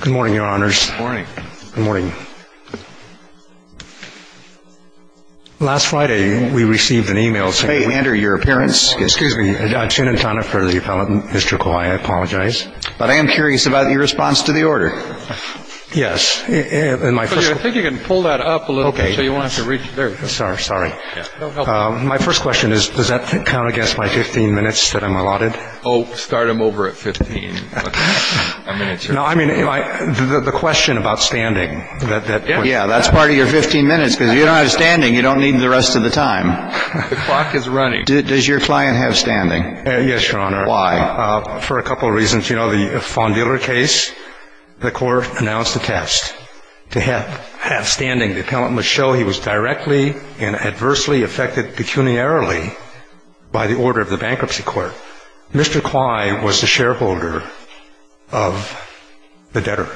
Good morning, Your Honors. Good morning. Good morning. Last Friday, we received an e-mail saying May we enter your appearance? Excuse me. I'm Chinatana for the appellate district. I apologize. But I am curious about your response to the order. Yes. I think you can pull that up a little bit. Okay. So you won't have to reach there. Sorry. My first question is, does that count against my 15 minutes that I'm allotted? Oh, start them over at 15. No, I mean, the question about standing. Yeah, that's part of your 15 minutes. Because if you don't have standing, you don't need the rest of the time. The clock is running. Does your client have standing? Yes, Your Honor. Why? For a couple of reasons. You know, the Fawn Dealer case, the court announced a test to have standing. The appellant must show he was directly and adversely affected pecuniarily by the order of the bankruptcy court. Mr. Clyde was the shareholder of the debtor.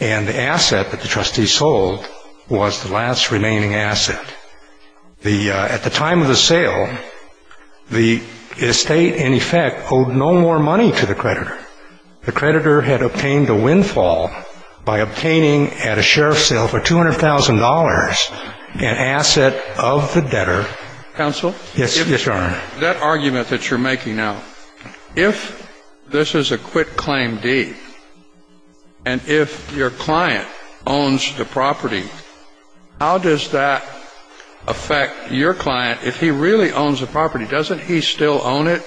And the asset that the trustee sold was the last remaining asset. At the time of the sale, the estate, in effect, owed no more money to the creditor. The creditor had obtained a windfall by obtaining at a sheriff's sale for $200,000 an asset of the debtor. Counsel? Yes, Your Honor. That argument that you're making now, if this is a quitclaim deed and if your client owns the property, how does that affect your client if he really owns the property? Doesn't he still own it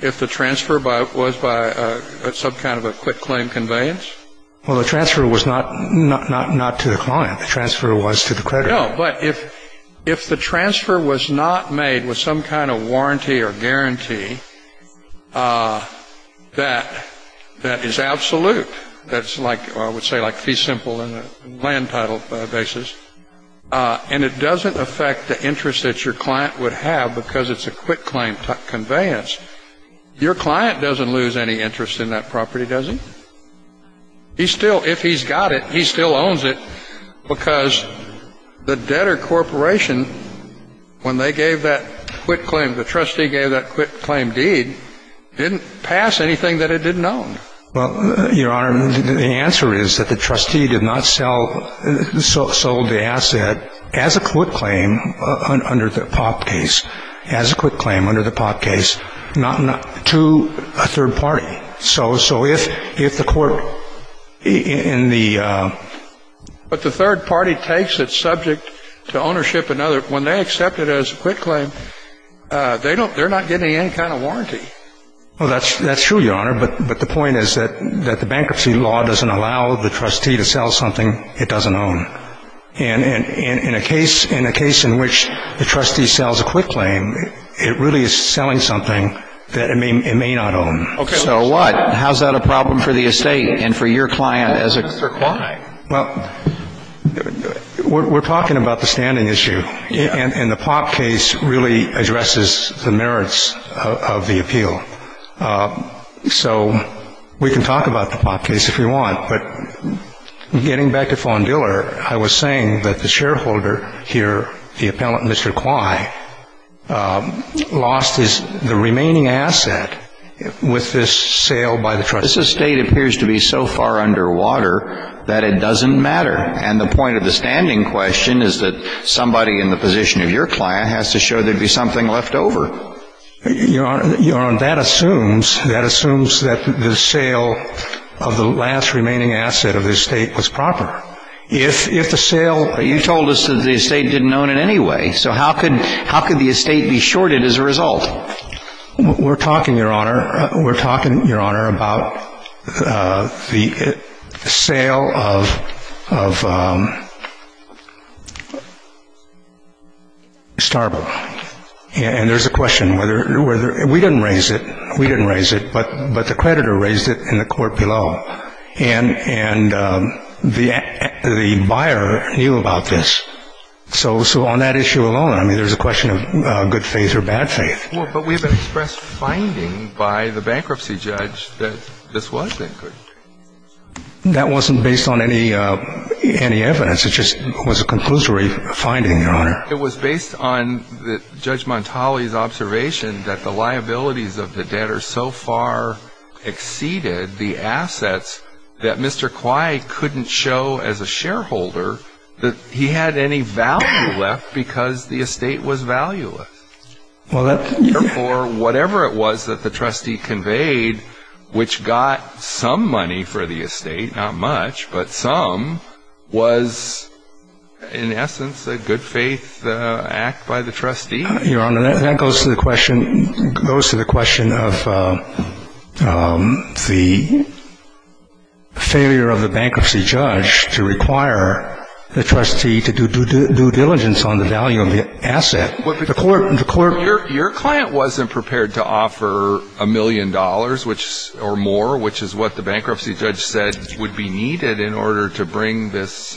if the transfer was by some kind of a quitclaim conveyance? Well, the transfer was not to the client. The transfer was to the creditor. No, but if the transfer was not made with some kind of warranty or guarantee that is absolute, that's like I would say like fee simple in a land title basis, and it doesn't affect the interest that your client would have because it's a quitclaim conveyance, your client doesn't lose any interest in that property, does he? He still, if he's got it, he still owns it because the debtor corporation, when they gave that quitclaim, the trustee gave that quitclaim deed, didn't pass anything that it didn't own. Well, Your Honor, the answer is that the trustee did not sell, sold the asset as a quitclaim under the Pop case, as a quitclaim under the Pop case to a third party. So if the court in the… But the third party takes it subject to ownership, when they accept it as a quitclaim, they're not getting any kind of warranty. Well, that's true, Your Honor, but the point is that the bankruptcy law doesn't allow the trustee to sell something it doesn't own. And in a case in which the trustee sells a quitclaim, it really is selling something that it may not own. So what? How's that a problem for the estate and for your client as a… Mr. Quye. Well, we're talking about the standing issue, and the Pop case really addresses the merits of the appeal. So we can talk about the Pop case if we want, but getting back to Von Diller, I was saying that the shareholder here, the appellant, Mr. Quye, lost his… the remaining asset with this sale by the trustee. This estate appears to be so far underwater that it doesn't matter. And the point of the standing question is that somebody in the position of your client has to show there'd be something left over. Your Honor, that assumes, that assumes that the sale of the last remaining asset of the estate was proper. If the sale… But you told us that the estate didn't own it anyway, so how could the estate be shorted as a result? We're talking, Your Honor, we're talking, Your Honor, about the sale of Starbo. And there's a question whether… we didn't raise it, we didn't raise it, but the creditor raised it in the court below. And the buyer knew about this. So on that issue alone, I mean, there's a question of good faith or bad faith. But we've expressed finding by the bankruptcy judge that this was a good… That wasn't based on any evidence. It was based on Judge Montali's observation that the liabilities of the debtor so far exceeded the assets that Mr. Quye couldn't show as a shareholder that he had any value left because the estate was valueless. Therefore, whatever it was that the trustee conveyed, which got some money for the estate, not much, but some, was in essence a good faith act by the trustee. Your Honor, that goes to the question of the failure of the bankruptcy judge to require the trustee to do due diligence on the value of the asset. Your client wasn't prepared to offer a million dollars or more, which is what the bankruptcy judge said would be needed in order to bring this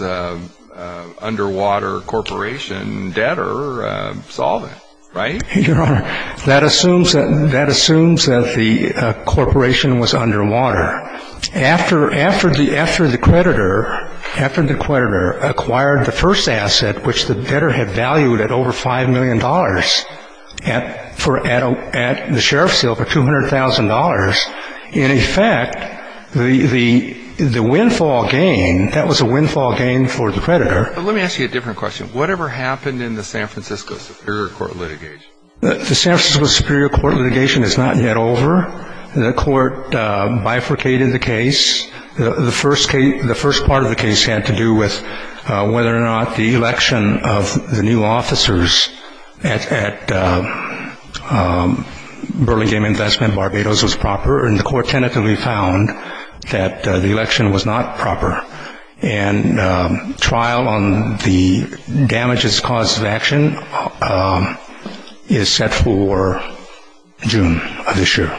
underwater corporation debtor solving, right? Your Honor, that assumes that the corporation was underwater. After the creditor acquired the first asset, which the debtor had valued at over $5 million at the sheriff's deal for $200,000, in effect, the windfall gain, that was a windfall gain for the creditor. But let me ask you a different question. Whatever happened in the San Francisco Superior Court litigation? The San Francisco Superior Court litigation is not yet over. The court bifurcated the case. The first part of the case had to do with whether or not the election of the new officers at Burlingame Investment Barbados was proper, and the court tentatively found that the election was not proper. And trial on the damages cause of action is set for June of this year.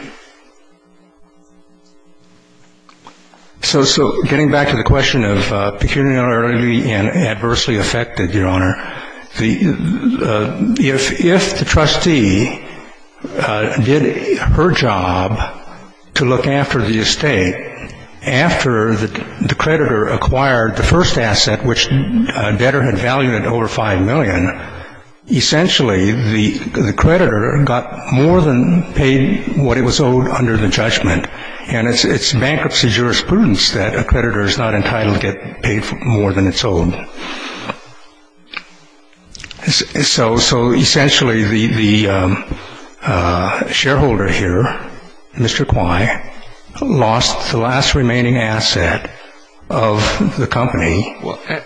So getting back to the question of peculiarly and adversely affected, Your Honor, if the trustee did her job to look after the estate after the creditor acquired the first asset, which the debtor had valued at over $5 million, essentially the creditor got more than paid what it was owed under the judgment. And it's bankruptcy jurisprudence that a creditor is not entitled to get paid more than it's owed. So essentially the shareholder here, Mr. Kwei, lost the last remaining asset of the company.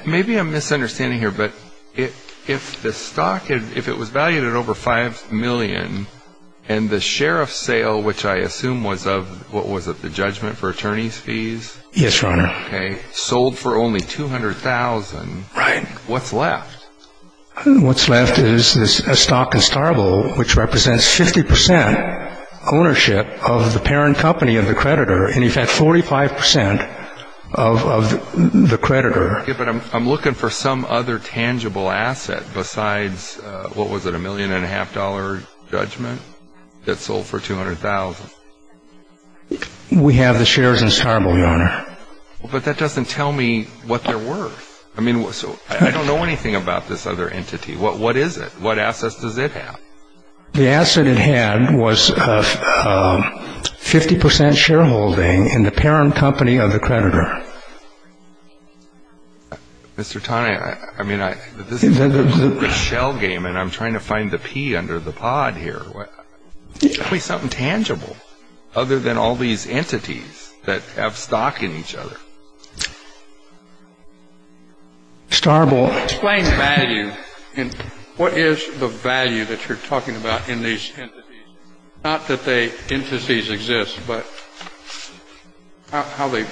Maybe I'm misunderstanding here, but if the stock, if it was valued at over $5 million and the sheriff's sale, which I assume was of, what was it, the judgment for attorney's fees? Yes, Your Honor. Sold for only $200,000. Right. What's left? What's left is a stock in Starville which represents 50 percent ownership of the parent company of the creditor, in effect 45 percent of the creditor. But I'm looking for some other tangible asset besides, what was it, a $1.5 million judgment that sold for $200,000. We have the shares in Starville, Your Honor. But that doesn't tell me what they're worth. I mean, so I don't know anything about this other entity. What is it? What assets does it have? The asset it had was 50 percent shareholding in the parent company of the creditor. Mr. Taney, I mean, this is a shell game and I'm trying to find the pea under the pod here. Tell me something tangible other than all these entities that have stock in each other. Starville. Explain value. What is the value that you're talking about in these entities? Not that the entities exist, but how do you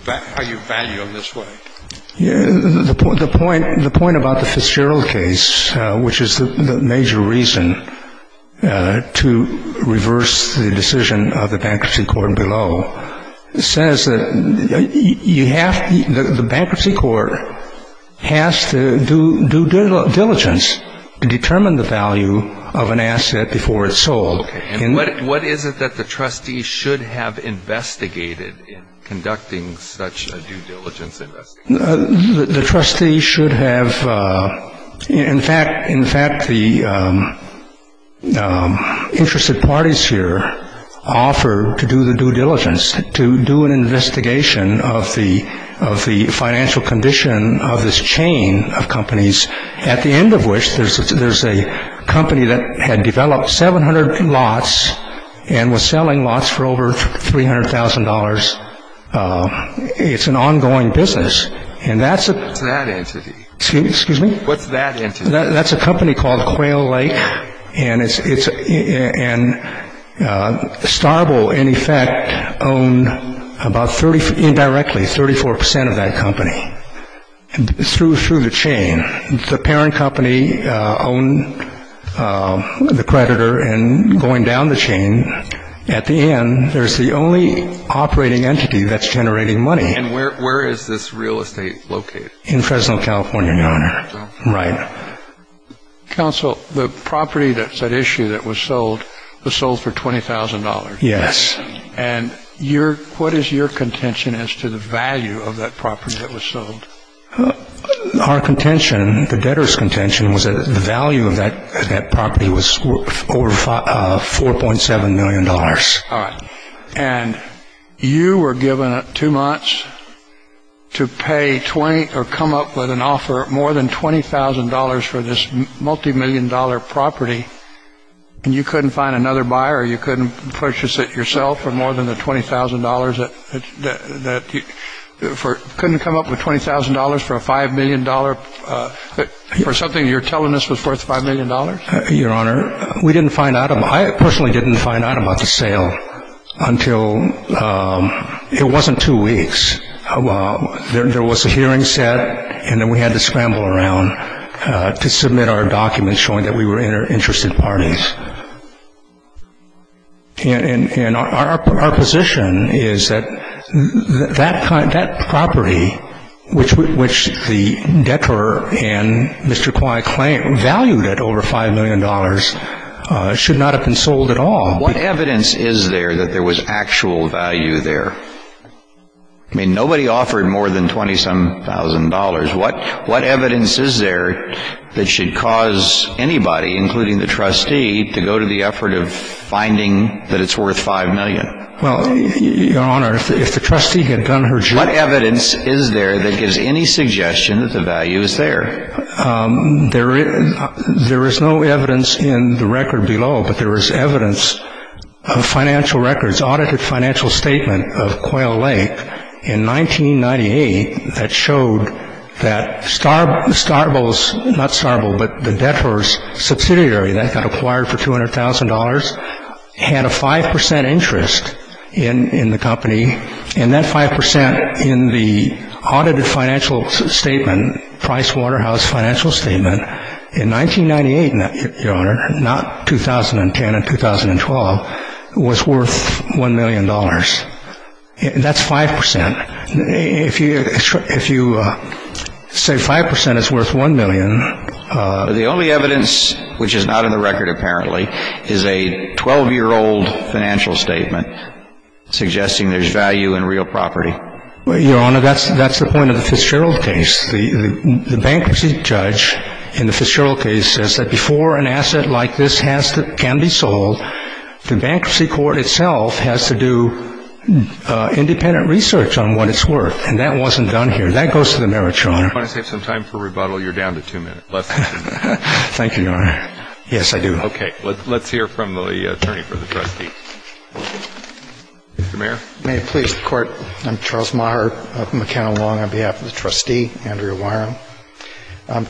value them this way? The point about the Fitzgerald case, which is the major reason to reverse the decision of the bankruptcy court below, says that the bankruptcy court has to do due diligence to determine the value of an asset before it's sold. What is it that the trustees should have investigated in conducting such a due diligence investigation? The trustees should have. In fact, the interested parties here offer to do the due diligence, to do an investigation of the financial condition of this chain of companies, at the end of which there's a company that had developed 700 lots and was selling lots for over $300,000. It's an ongoing business. What's that entity? Excuse me? What's that entity? That's a company called Quail Lake. And Starville, in effect, owned about indirectly 34% of that company through the chain. The parent company owned the creditor, and going down the chain, at the end, there's the only operating entity that's generating money. And where is this real estate located? In Fresno, California, Your Honor. Right. Counsel, the property that's at issue that was sold was sold for $20,000. Yes. And what is your contention as to the value of that property that was sold? Our contention, the debtor's contention, was that the value of that property was over $4.7 million. All right. And you were given two months to pay or come up with an offer of more than $20,000 for this multimillion-dollar property, and you couldn't find another buyer or you couldn't purchase it yourself for more than the $20,000? Couldn't come up with $20,000 for a $5 million, for something you're telling us was worth $5 million? Your Honor, we didn't find out about it. I personally didn't find out about the sale until it wasn't two weeks. There was a hearing set, and then we had to scramble around to submit our documents showing that we were interested parties. And our position is that that property, which the debtor and Mr. Kwai claimed valued at over $5 million, should not have been sold at all. What evidence is there that there was actual value there? I mean, nobody offered more than $20-some-thousand. What evidence is there that should cause anybody, including the trustee, to go to the effort of finding that it's worth $5 million? Well, Your Honor, if the trustee had done her job. What evidence is there that gives any suggestion that the value is there? There is no evidence in the record below, but there is evidence of financial records, statement of Quayle Lake in 1998 that showed that Starbull's, not Starbull, but the debtor's subsidiary that got acquired for $200,000, had a 5% interest in the company. And that 5% in the audited financial statement, Price Waterhouse financial statement, in 1998, Your Honor, not 2010 and 2012, was worth $1 million. That's 5%. If you say 5% is worth $1 million. The only evidence which is not in the record, apparently, is a 12-year-old financial statement suggesting there's value in real property. Well, Your Honor, that's the point of the Fitzgerald case. The bankruptcy judge in the Fitzgerald case says that before an asset like this can be sold, the bankruptcy court itself has to do independent research on what it's worth. And that wasn't done here. That goes to the merits, Your Honor. I want to save some time for rebuttal. You're down to two minutes. Thank you, Your Honor. Yes, I do. Okay. Let's hear from the attorney for the trustee. Mr. Mayor. May it please the Court. I'm Charles Maher of McKenna Long on behalf of the trustee, Andrea Wyrum.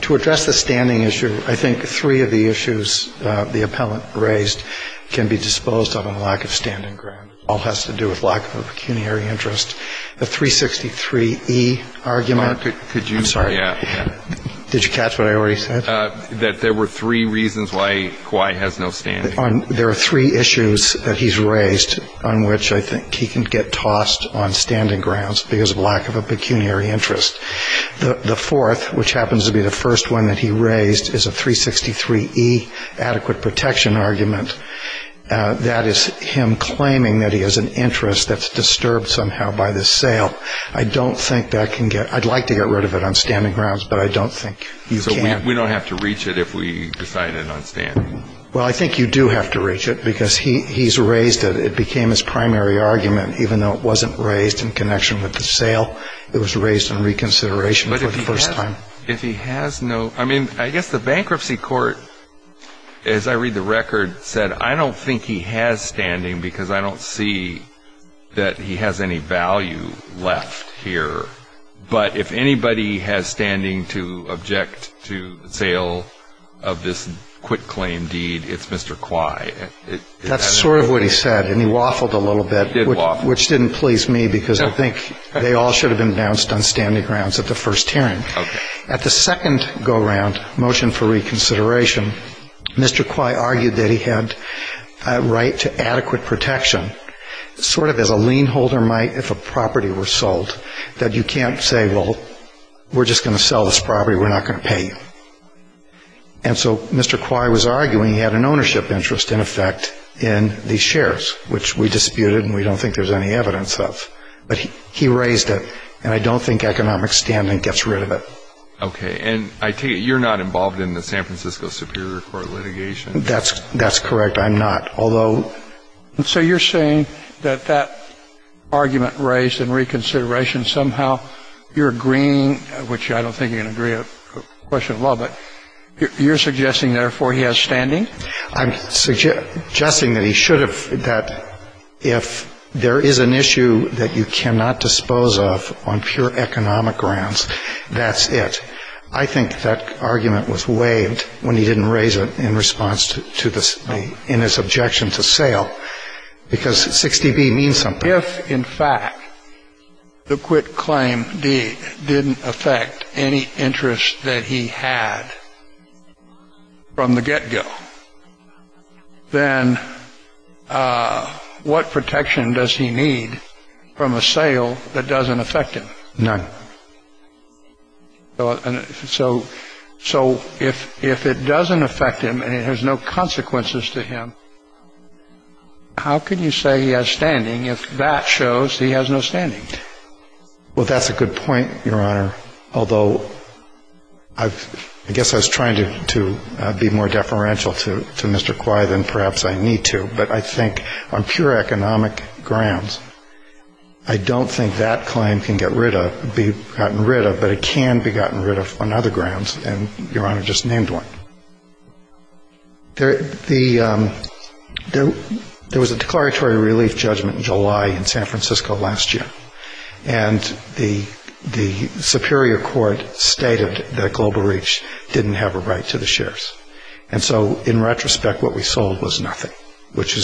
To address the standing issue, I think three of the issues the appellant raised can be disposed of on lack of standing ground. It all has to do with lack of pecuniary interest. The 363E argument. Mark, could you? I'm sorry. Did you catch what I already said? That there were three reasons why Kawhi has no standing. There are three issues that he's raised on which I think he can get tossed on standing grounds because of lack of a pecuniary interest. The fourth, which happens to be the first one that he raised, is a 363E adequate protection argument. That is him claiming that he has an interest that's disturbed somehow by this sale. I don't think that can get ‑‑ I'd like to get rid of it on standing grounds, but I don't think you can. So we don't have to reach it if we decide it on standing? Well, I think you do have to reach it because he's raised it. It became his primary argument, even though it wasn't raised in connection with the sale. It was raised in reconsideration for the first time. But if he has no ‑‑ I mean, I guess the bankruptcy court, as I read the record, said, I don't think he has standing because I don't see that he has any value left here. But if anybody has standing to object to the sale of this quitclaim deed, it's Mr. Quye. That's sort of what he said, and he waffled a little bit, which didn't please me, because I think they all should have been bounced on standing grounds at the first hearing. At the second go‑around, motion for reconsideration, Mr. Quye argued that he had a right to adequate protection, sort of as a lien holder might if a property were sold, that you can't say, well, we're just going to sell this property, we're not going to pay you. And so Mr. Quye was arguing he had an ownership interest, in effect, in these shares, which we disputed and we don't think there's any evidence of. But he raised it, and I don't think economic standing gets rid of it. Okay. And I take it you're not involved in the San Francisco Superior Court litigation? That's correct. I'm not. So you're saying that that argument raised in reconsideration, somehow you're agreeing, which I don't think you can agree on a question of law, but you're suggesting, therefore, he has standing? I'm suggesting that he should have, that if there is an issue that you cannot dispose of on pure economic grounds, that's it. I think that argument was waived when he didn't raise it in his objection to sale, because 60B means something. If, in fact, the quit claim didn't affect any interest that he had from the get-go, then what protection does he need from a sale that doesn't affect him? None. So if it doesn't affect him and it has no consequences to him, how can you say he has standing if that shows he has no standing? Well, that's a good point, Your Honor, although I guess I was trying to be more deferential to Mr. Quy than perhaps I need to. But I think on pure economic grounds, I don't think that claim can get rid of, be gotten rid of, but it can be gotten rid of on other grounds, and Your Honor just named one. There was a declaratory relief judgment in July in San Francisco last year, and the superior court stated that Global Reach didn't have a right to the shares. And so in retrospect, what we sold was nothing, which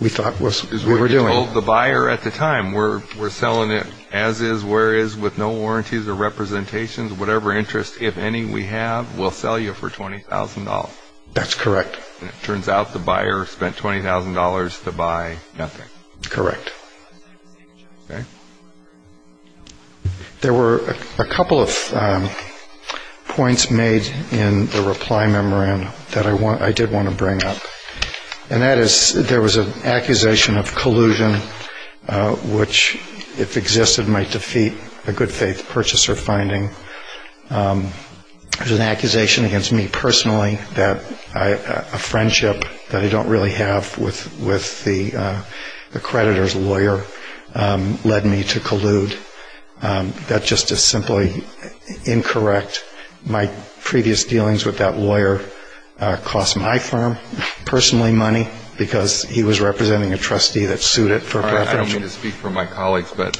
we thought was what we were doing. Because we told the buyer at the time, we're selling it as is, where is, with no warranties or representations. Whatever interest, if any, we have, we'll sell you for $20,000. That's correct. And it turns out the buyer spent $20,000 to buy nothing. Correct. Okay. There were a couple of points made in the reply memorandum that I did want to bring up, and that is there was an accusation of collusion, which if existed might defeat a good-faith purchaser finding. There's an accusation against me personally that a friendship that I don't really have with the creditor's lawyer led me to collude. That's just as simply incorrect. My previous dealings with that lawyer cost my firm personally money because he was representing a trustee that sued it for paraplegia. I don't mean to speak for my colleagues, but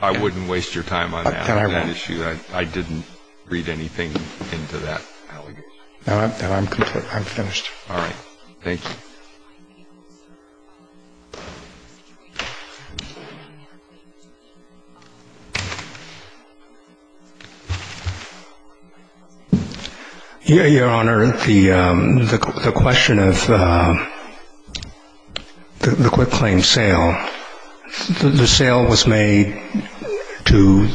I wouldn't waste your time on that issue. I didn't read anything into that allegation. I'm finished. All right. Thank you. Any other questions? Your Honor, the question of the quick claim sale, the sale was made to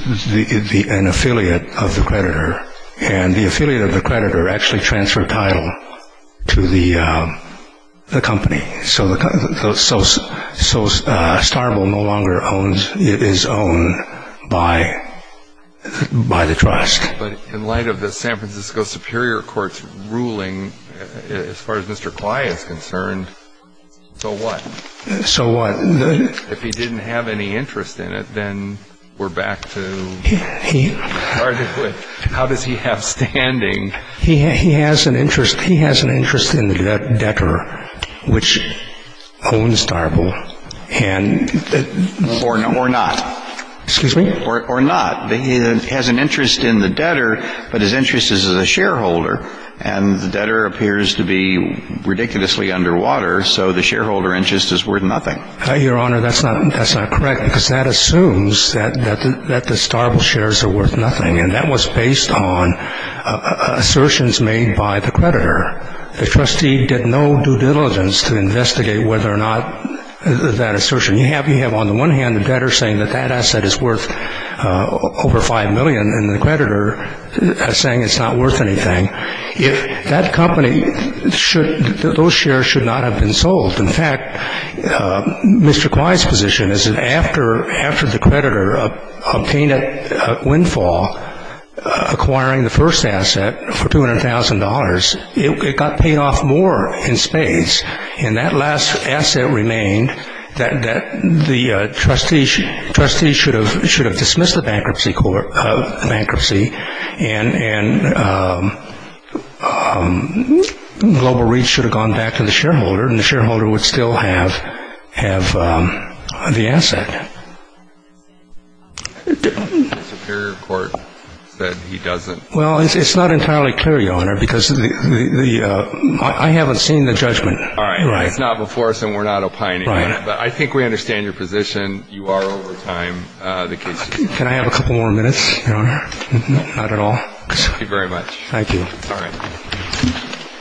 an affiliate of the creditor, and the affiliate of the creditor actually transferred title to the company. So Starbull no longer is owned by the trust. But in light of the San Francisco Superior Court's ruling, as far as Mr. Kley is concerned, so what? So what? If he didn't have any interest in it, then we're back to what we started with. How does he have standing? He has an interest in the debtor, which owns Starbull. Or not. Excuse me? Or not. He has an interest in the debtor, but his interest is as a shareholder. And the debtor appears to be ridiculously underwater, so the shareholder interest is worth nothing. Your Honor, that's not correct because that assumes that the Starbull shares are worth nothing. And that was based on assertions made by the creditor. The trustee did no due diligence to investigate whether or not that assertion. You have on the one hand the debtor saying that that asset is worth over $5 million and the creditor saying it's not worth anything. If that company should, those shares should not have been sold. In fact, Mr. Kley's position is that after the creditor obtained a windfall acquiring the first asset for $200,000, it got paid off more in spades. And that last asset remained that the trustees should have dismissed the bankruptcy. And global reach should have gone back to the shareholder, and the shareholder would still have the asset. The superior court said he doesn't. Well, it's not entirely clear, Your Honor, because I haven't seen the judgment. All right. It's not before us and we're not opining. Right. But I think we understand your position. You are over time. Can I have a couple more minutes, Your Honor? Not at all. Thank you very much. Thank you. All right.